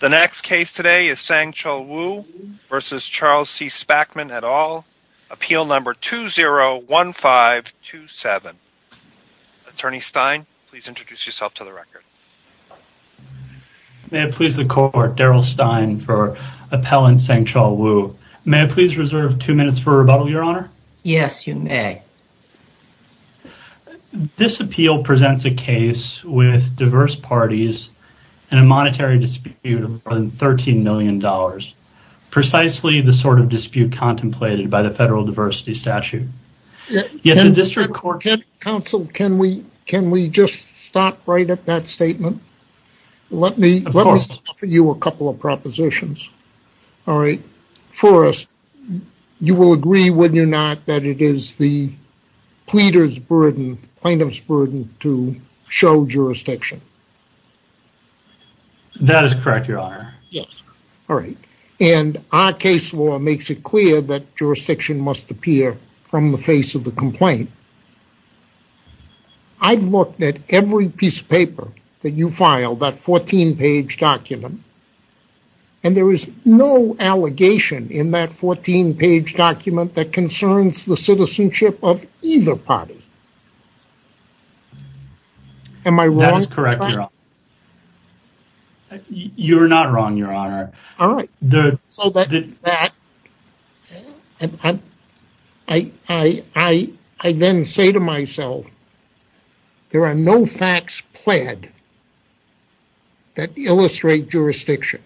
The next case today is Sang-Chul Wu v. Charles C. Spackman et al. Appeal number 201527. Attorney Stein, please introduce yourself to the record. May it please the court, Daryl Stein for appellant Sang-Chul Wu. May I please reserve two minutes for rebuttal, your honor? Yes, you may. This appeal presents a case with diverse parties in a monetary dispute of more than $13 million. Precisely the sort of dispute contemplated by the federal diversity statute. Yet the district court... Counsel, can we just stop right at that statement? Let me offer you a couple of propositions. All right. First, you will agree, will you not, that it is the pleader's burden, plaintiff's burden to show jurisdiction? That is correct, your honor. Yes. All right. And our case law makes it clear that jurisdiction must appear from the face of the complaint. I've looked at every piece of paper that you filed, that 14 page document. And there is no allegation in that 14 page document that concerns the citizenship of either party. Am I wrong? That is correct, your honor. You're not wrong, your honor. All right. So that, I then say to myself, there are no facts pled that illustrate jurisdiction.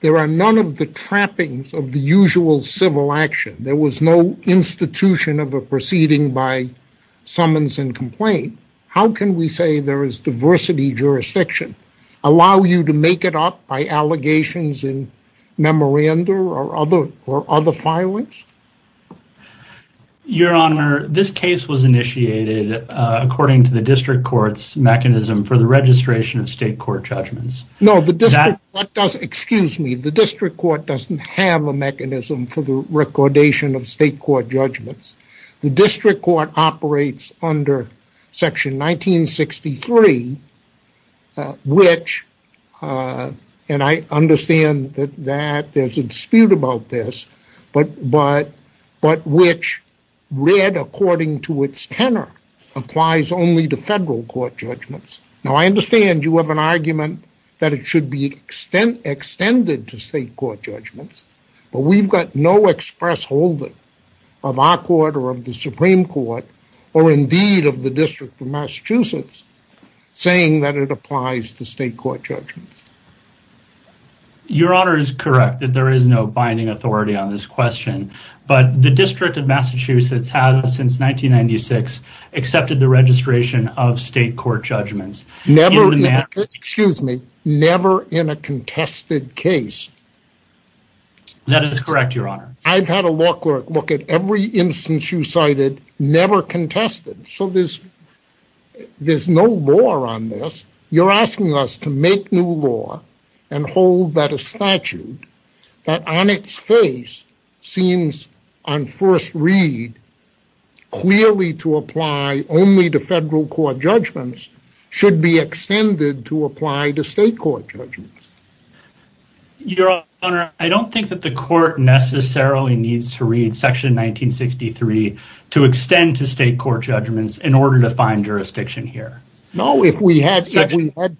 There are none of the trappings of the usual civil action. There was no institution of a proceeding by summons and complaint. How can we say there is diversity jurisdiction? Allow you to make it up by allegations in memoranda or other filings? Your honor, this case was initiated according to the district court's mechanism for the registration of state court judgments. No, the district, excuse me, the district court doesn't have a mechanism for the recordation of state court judgments. The district court operates under section 1963, which, and I understand that there's a dispute about this, but which read according to its tenor applies only to federal court judgments. Now I understand you have an argument that it should be extended to state court judgments, but we've got no express hold of our court or of the Supreme Court or indeed of the District of Massachusetts saying that it applies to state court judgments. Your honor is correct that there is no binding authority on this question, but the District of Massachusetts has, since 1996, accepted the registration of state court judgments. Excuse me, never in a contested case. That is correct, your honor. I've had a law clerk look at every instance you cited, never contested, so there's no law on this. You're asking us to make new law and hold that a statute that on its face seems on first read clearly to apply only to federal court judgments should be extended to apply to state court judgments. Your honor, I don't think that the court necessarily needs to read section 1963 to extend to state court judgments in order to find jurisdiction here. No, if we had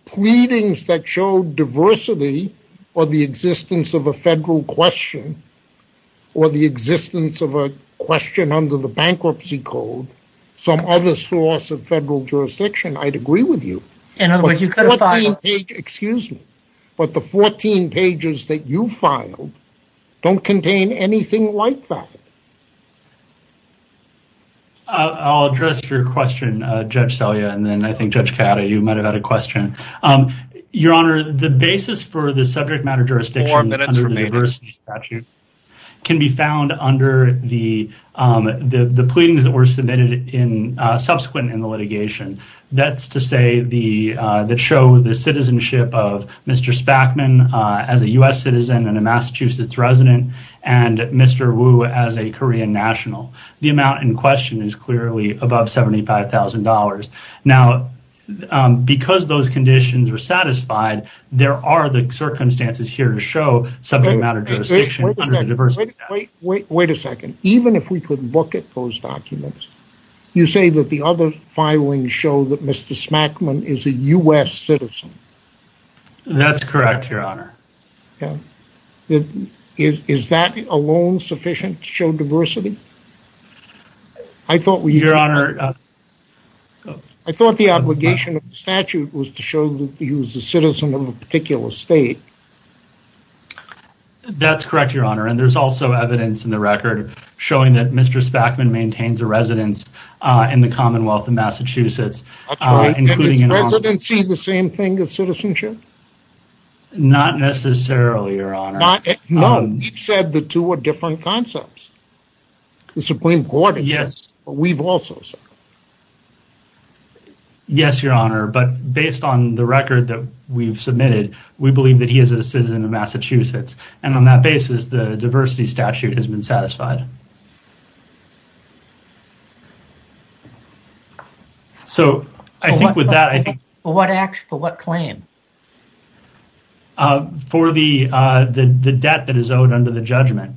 pleadings that showed diversity or the existence of a federal question or the existence of a question under the bankruptcy code, some other source of federal jurisdiction, I'd agree with you. Excuse me, but the 14 pages that you filed don't contain anything like that. I'll address your question, Judge Salia, and then I think Judge Ciotta, you might have had a question. Your honor, the basis for the subject matter jurisdiction under the diversity statute can be found under the pleadings that were subsequent in the litigation. That's to say that show the citizenship of Mr. Spackman as a U.S. citizen and a Massachusetts resident and Mr. Woo as a Korean national. The amount in question is clearly above $75,000. Now, because those conditions were satisfied, there are the circumstances here to show subject matter jurisdiction under the diversity statute. Wait a second. Even if we could look at those documents, you say that the other filings show that Mr. Spackman is a U.S. citizen. That's correct, your honor. Is that alone sufficient to show diversity? Your honor... I thought the obligation of the statute was to show that he was a citizen of a particular state. That's correct, your honor, and there's also evidence in the record showing that Mr. Spackman maintains a residence in the Commonwealth of Massachusetts. That's right. And is residency the same thing as citizenship? Not necessarily, your honor. No, you've said the two are different concepts. The Supreme Court has said it, but we've also said it. Yes, your honor, but based on the record that we've submitted, we believe that he is a citizen of Massachusetts, and on that basis, the diversity statute has been satisfied. For what claim? For the debt that is owed under the judgment.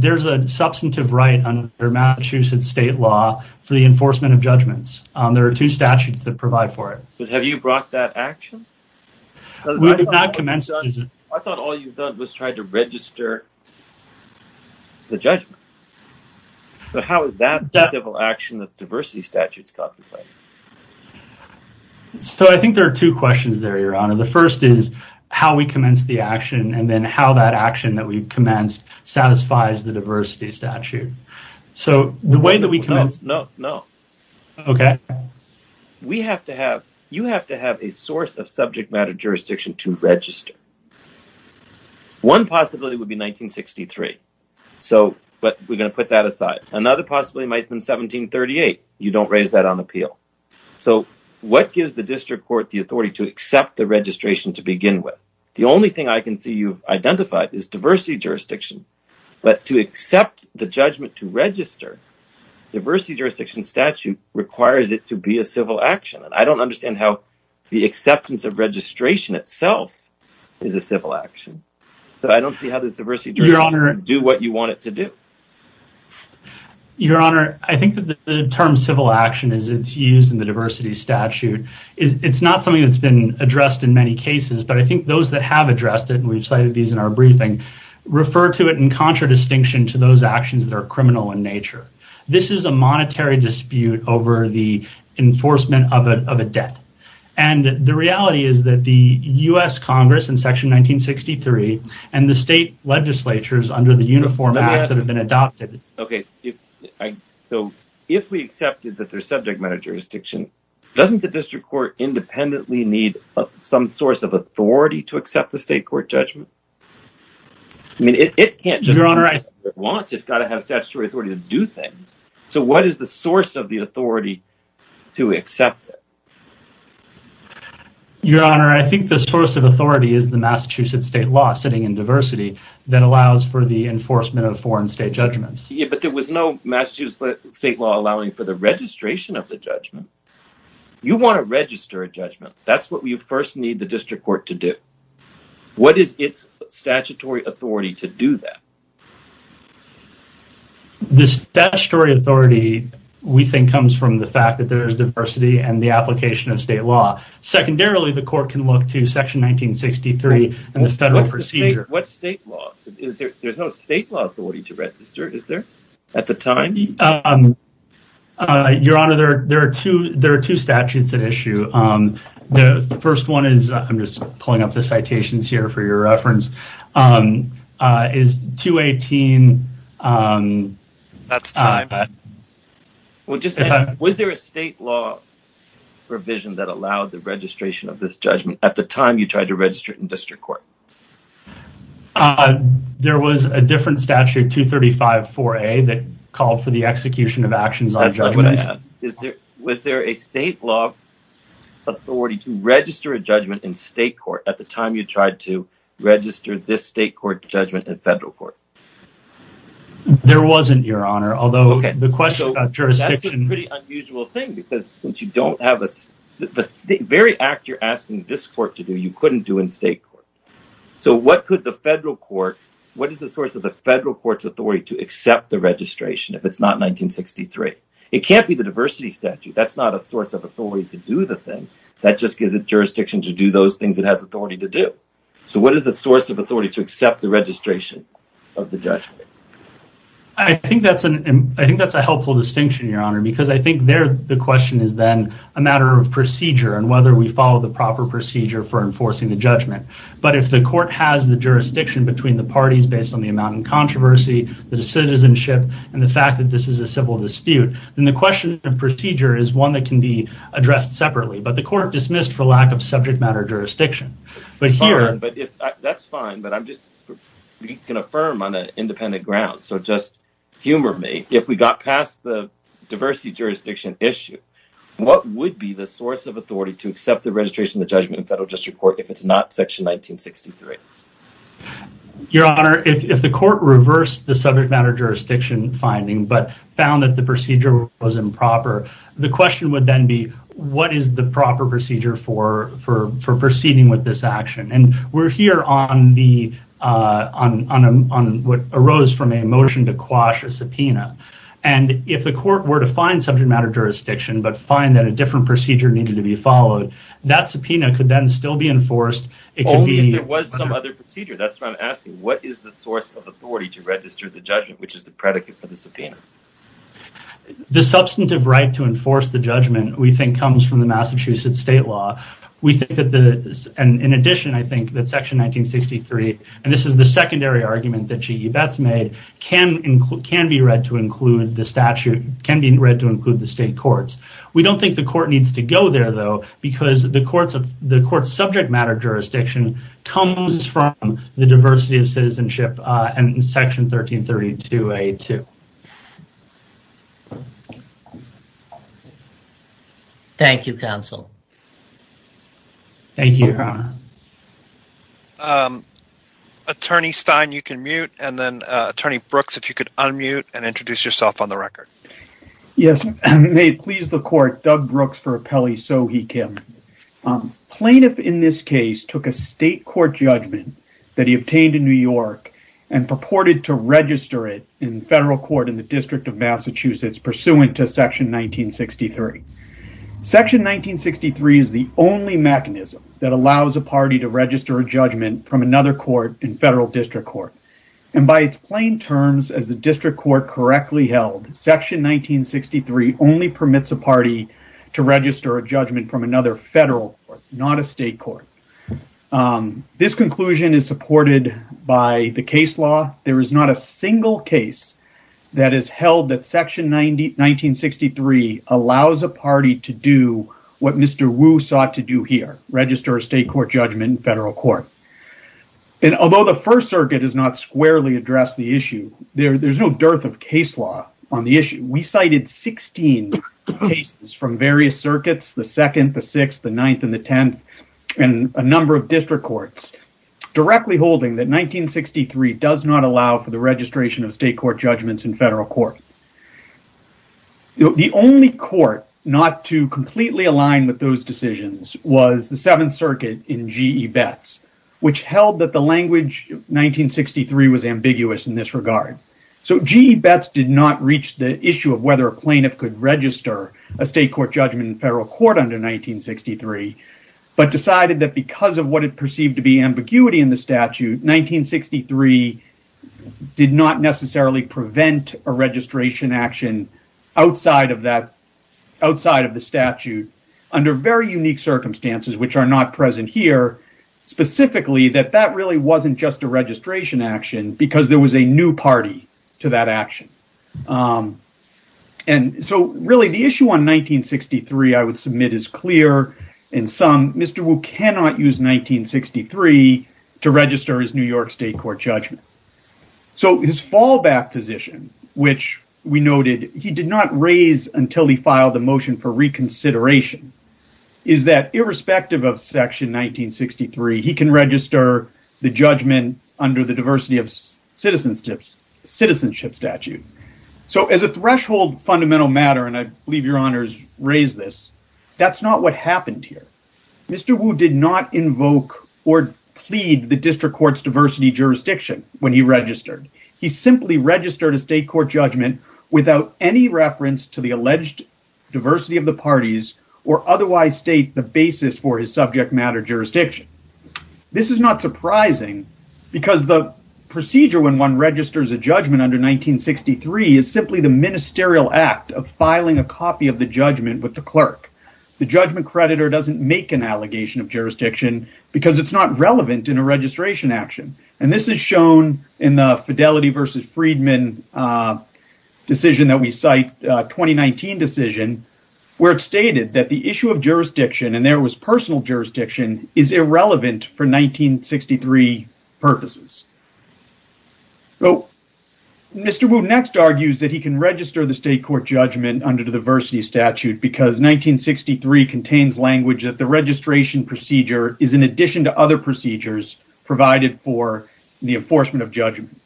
There's a substantive right under Massachusetts state law for the enforcement of judgments. There are two statutes that provide for it. But have you brought that action? We have not commenced... I thought all you've done was try to register the judgment. But how is that the devil action that the diversity statute's got to play? So I think there are two questions there, your honor. The first is how we commence the action, and then how that action that we've commenced satisfies the diversity statute. So the way that we commence... No, no, no. Okay. We have to have... You have to have a source of subject matter jurisdiction to register. One possibility would be 1963. So... But we're going to put that aside. Another possibility might have been 1738. You don't raise that on appeal. So what gives the district court the authority to accept the registration to begin with? The only thing I can see you've identified is diversity jurisdiction. But to accept the judgment to register, the diversity jurisdiction statute requires it to be a civil action. I don't understand how the acceptance of registration itself is a civil action. So I don't see how the diversity... Your honor... ...do what you want it to do. Your honor, I think that the term civil action is used in the diversity statute. It's not something that's been addressed in many cases, but I think those that have addressed it, and we've cited these in our briefing, refer to it in contradistinction to those actions that are criminal in nature. This is a monetary dispute over the enforcement of a debt. And the reality is that the U.S. Congress in section 1963 and the state legislatures under the Uniform Act that have been adopted... Okay, so if we accepted that there's subject matter jurisdiction, doesn't the district court independently need some source of authority to accept the state court judgment? I mean, it can't just... ...do things. So what is the source of the authority to accept it? Your honor, I think the source of authority is the Massachusetts state law sitting in diversity that allows for the enforcement of foreign state judgments. Yeah, but there was no Massachusetts state law allowing for the registration of the judgment. You want to register a judgment. That's what you first need the district court to do. What is its statutory authority to do that? The statutory authority we think comes from the fact that there's diversity and the application of state law. Secondarily, the court can look to section 1963 and the federal procedure. What's state law? There's no state law authority to register, is there, at the time? Your honor, there are two statutes at issue. The first one is... I'm just pulling up the citations here for your reference. It's 218... That's time. Was there a state law provision that allowed the registration of this judgment at the time you tried to register it in district court? There was a different statute, 235-4A, that called for the execution of actions on judgments. Was there a state law authority to register a judgment in state court at the time you tried to register this state court judgment in federal court? There wasn't, your honor, although the question about jurisdiction... That's a pretty unusual thing because the very act you're asking this court to do you couldn't do in state court. So what is the source of the federal court's authority to accept the registration if it's not 1963? It can't be the diversity statute. That's not a source of authority that just gives it jurisdiction to do those things it has authority to do. So what is the source of authority to accept the registration of the judgment? I think that's a helpful distinction, your honor, because I think there the question is a matter of procedure and whether we follow the proper procedure for enforcing the judgment. But if the court has the jurisdiction between the parties based on the amount of controversy, the citizenship, and the fact that this is a civil dispute, then the question of procedure is one that can be addressed separately. But the court dismissed for lack of subject matter jurisdiction. That's fine, but I'm just going to affirm on an independent ground. So just humor me. If we got past the diversity jurisdiction issue, what would be the source of authority to accept the registration of the judgment in federal district court if it's not section 1963? Your honor, if the court reversed the subject matter jurisdiction finding, but found that the procedure was improper, the question would then be, what is the proper procedure for proceeding with this action? And we're here on what arose from a motion to quash a subpoena. And if the court were to find subject matter jurisdiction, but find that a different procedure needed to be followed, that subpoena could then still be enforced. Only if there was some other procedure. That's what I'm asking. What is the source of authority to register the judgment, which is the predicate for the subpoena? The substantive right to enforce the judgment we think comes from the Massachusetts state law. In addition, I think that section 1963, and this is the secondary argument that G.E. Betts made, can be read to include the statute, can be read to include the state courts. We don't think the court needs to go there, though, because the court's subject matter jurisdiction comes from the section 1332A2. Thank you, counsel. Thank you, Your Honor. Attorney Stein, you can mute, and then Attorney Brooks, if you could unmute and introduce yourself on the record. Yes. May it please the court, Doug Brooks for Appellee Sohee Kim. Plaintiff in this case took a state court judgment that he obtained in New York and purported to register it in federal court in the District of Massachusetts pursuant to section 1963. Section 1963 is the only mechanism that allows a party to register a judgment from another court in federal district court. By its plain terms, as the district court correctly held, section 1963 only permits a party to register a judgment from another federal court, not a state court. This conclusion is supported by the case law. There is not a single case that is held that section 1963 allows a party to do what Mr. Wu sought to do here, register a state court judgment in federal court. Although the First Circuit has not squarely addressed the issue, there's no dearth of case law on the issue. We cited 16 cases from various circuits, the 2nd, the 6th, the 9th, and the 10th, and a number of district courts, directly holding that 1963 does not allow for the registration of state court judgments in federal court. The only court not to completely align with those decisions was the 7th Circuit in G.E. Betts, which held that the language 1963 was ambiguous in this regard. G.E. Betts did not reach the issue of whether a plaintiff could register a state court judgment in federal court under 1963, but decided that because of what it perceived to be ambiguity in the statute, 1963 did not necessarily prevent a registration action outside of that outside of the statute under very unique circumstances, which are not present here, specifically that that really wasn't just a registration action because there was a new party to that action. And so, really, the issue on 1963 I would submit is clear in some, Mr. Wu cannot use 1963 to register his New York state court judgment. So, his fallback position, which we noted, he did not raise until he filed the motion for reconsideration, is that irrespective of section 1963, he can register the judgment under the diversity of citizenship statute. So, as a threshold fundamental matter, and I believe your honors raise this, that's not what happened here. Mr. Wu did not invoke or plead the district court's diversity jurisdiction when he registered. He simply registered a state court judgment without any reference to the alleged diversity of the parties or otherwise state the basis for his subject matter jurisdiction. This is not surprising because the procedure when one registers a judgment under 1963 is simply the ministerial act of filing a copy of the judgment with the clerk. The judgment creditor doesn't make an allegation of jurisdiction because it's not relevant in a registration action. And this is shown in the Fidelity versus Friedman decision that we cite, 2019 decision, where it stated that the issue of jurisdiction, and there was personal jurisdiction, is irrelevant for 1963 purposes. Mr. Wu next argues that he can register the state court judgment under the diversity statute because 1963 contains language that the registration procedure is in addition to other procedures provided for the enforcement of judgments.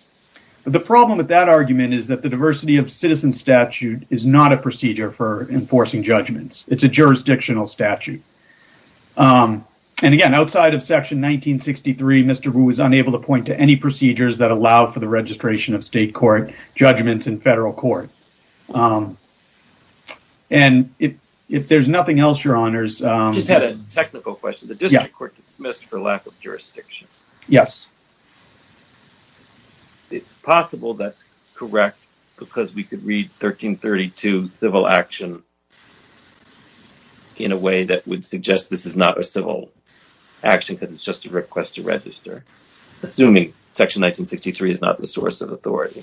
The problem with that argument is that the diversity of citizen statute is not a procedure for enforcing judgments. It's a jurisdictional statute. And again, outside of section 1963, Mr. Wu was unable to point to any procedures that allow for the registration of state court judgments in federal court. And if there's nothing else, your honors... I just had a technical question. The district court gets dismissed for lack of jurisdiction. Yes. It's possible that's correct because we could read 1332 civil action in a way that would require action because it's just a request to register. Assuming section 1963 is not the source of authority.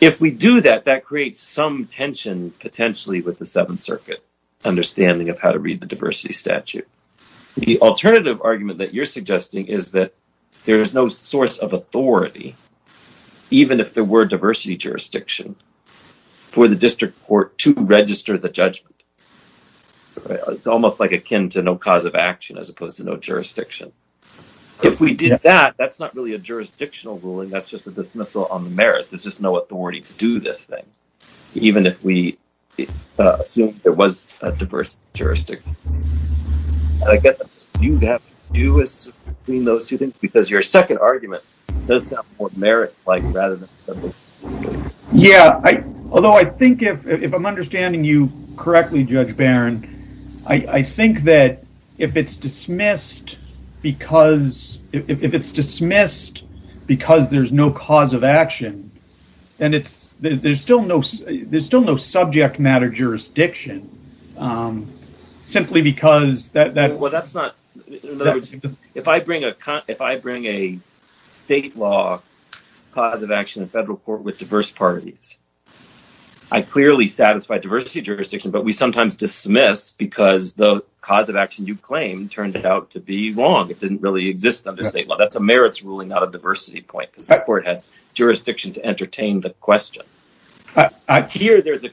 If we do that, that creates some tension, potentially, with the Seventh Circuit understanding of how to read the diversity statute. The alternative argument that you're suggesting is that there is no source of authority, even if there were diversity jurisdiction, for the district court to register the judgment. It's almost like it's akin to no cause of action as opposed to no jurisdiction. If we did that, that's not really a jurisdictional ruling, that's just a dismissal on the merits. There's just no authority to do this thing. Even if we assume there was a diversity jurisdiction. I guess what you'd have to do is to clean those two things because your second argument does sound more merit-like rather than... Yeah, although I think if I'm understanding you correctly, Judge Barron, I think that if it's dismissed because... If it's dismissed because there's no cause of action, then there's still no subject matter jurisdiction simply because... Well, that's not... If I bring a state law cause of action in a federal court with diverse parties, I clearly satisfy diversity jurisdiction, but we sometimes dismiss because the cause of action you claim turned out to be wrong. It didn't really exist under state law. That's a merits ruling, not a diversity point because that court had jurisdiction to entertain the question. Here there's a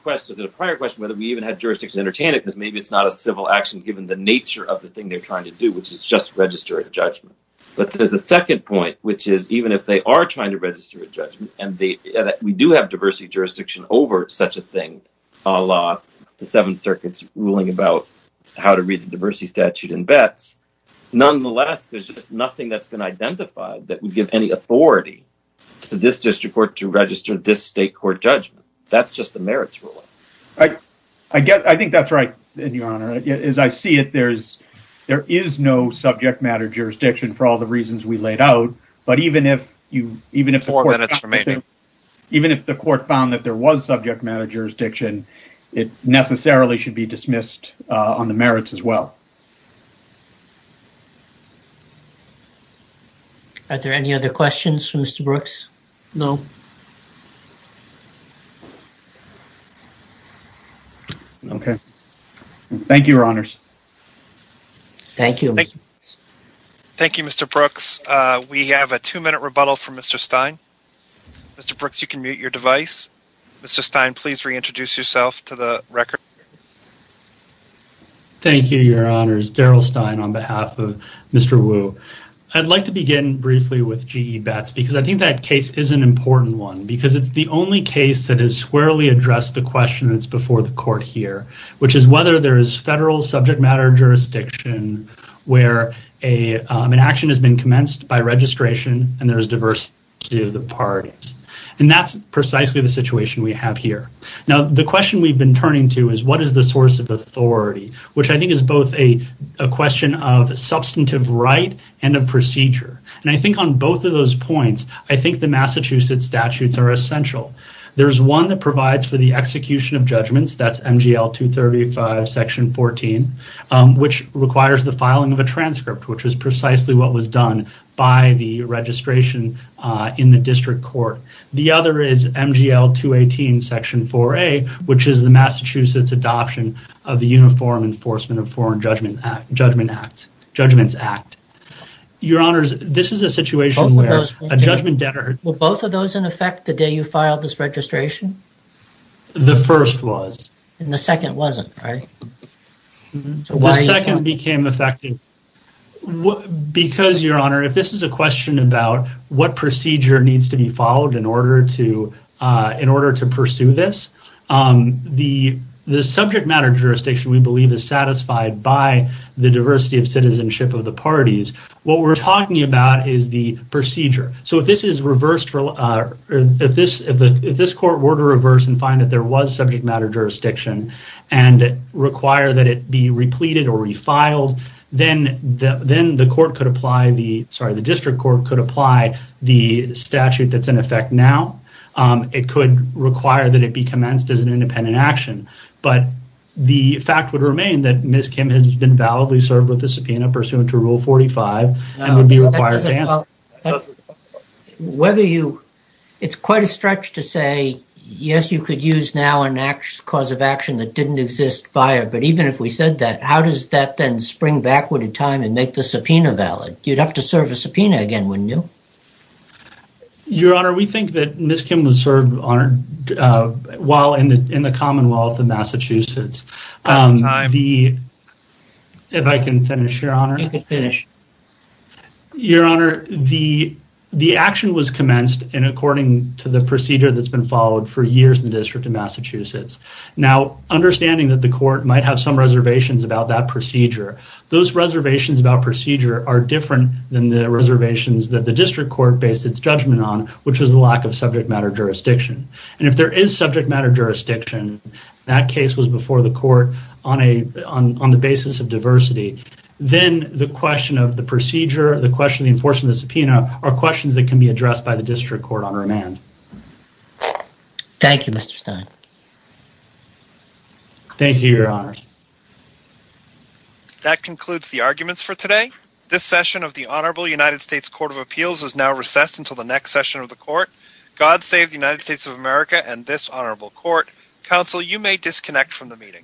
prior question whether we even had jurisdiction to entertain it because maybe it's not a civil action given the nature of the thing they're trying to do, which is just register a judgment. But there's a second point, which is even if they are trying to register a judgment and we do have a law, the Seventh Circuit's ruling about how to read the diversity statute in bets, nonetheless, there's just nothing that's been identified that would give any authority to this district court to register this state court judgment. That's just the merits ruling. I think that's right, Your Honor. As I see it, there is no subject matter jurisdiction for all the reasons we laid out, but even if... Four minutes remaining. Even if the court found that there was subject matter jurisdiction, it necessarily should be dismissed on the merits as well. Are there any other questions for Mr. Brooks? No. Okay. Thank you, Your Honors. Thank you. Thank you, Mr. Brooks. We have a two-minute rebuttal from Mr. Stein. Mr. Brooks, you can mute your device. Mr. Stein, please reintroduce yourself to the record. Thank you, Your Honors. Daryl Stein on behalf of Mr. Wu. I'd like to begin briefly with GE Bets because I think that case is an important one because it's the only case that has squarely addressed the question that's before the court here, which is whether there is federal subject matter jurisdiction where an action has been commenced by registration and there is diversity of the parties. That's precisely the situation we have here. The question we've been turning to is what is the source of authority, which I think is both a question of substantive right and of procedure. I think on both of those points, I think the Massachusetts statutes are essential. There's one that provides for the execution of judgments. That's MGL 235 Section 14, which requires the filing of a transcript, which is precisely what was done by the registration in the district court. The other is MGL 218 Section 4A, which is the Massachusetts adoption of the Uniform Enforcement of Foreign Judgment Act. Your Honors, this is a situation where a judgment debtor... Were both of those in effect the day you filed this registration? The first was. And the second wasn't, right? The second became effective because, Your Honor, if this is a question about what procedure needs to be followed in order to pursue this, the subject matter jurisdiction, we believe, is satisfied by the diversity of citizenship of the parties. What we're talking about is the procedure. If this is reversed, if this court were to reverse and find that there was subject matter jurisdiction and require that it be repleted or refiled, then the court could apply the...sorry, the district court could apply the statute that's in effect now. It could require that it be commenced as an independent action. The fact would remain that Ms. Kim has been validly served with the subpoena pursuant to Rule 45 and would be required to answer. Whether you... It's quite a stretch to say, yes, you could use now a cause of action that didn't exist prior, but even if we said that, how does that then spring backward in time and make the subpoena valid? You'd have to serve a subpoena again, wouldn't you? Your Honor, we think that Ms. Kim was served while in the Commonwealth of Massachusetts. Last time. If I can finish, Your Honor. You can finish. Your Honor, the action was commenced in according to the procedure that's been followed for years in the District of Massachusetts. Understanding that the Court might have some reservations about that procedure, those reservations about procedure are different than the reservations that the District Court based its judgment on, which was the lack of subject matter jurisdiction. If there is subject matter jurisdiction, that case was before the Court on the basis of diversity, then the question of the procedure, the question of the enforcement of the subpoena, are questions that can be addressed by the District Court on remand. Thank you. Thank you, Mr. Stein. Thank you, Your Honor. That concludes the arguments for today. This session of the Honorable United States Court of Appeals is now recessed until the next session of the Court. God save the United States of America and this Honorable Court. Counsel, you may disconnect from the meeting.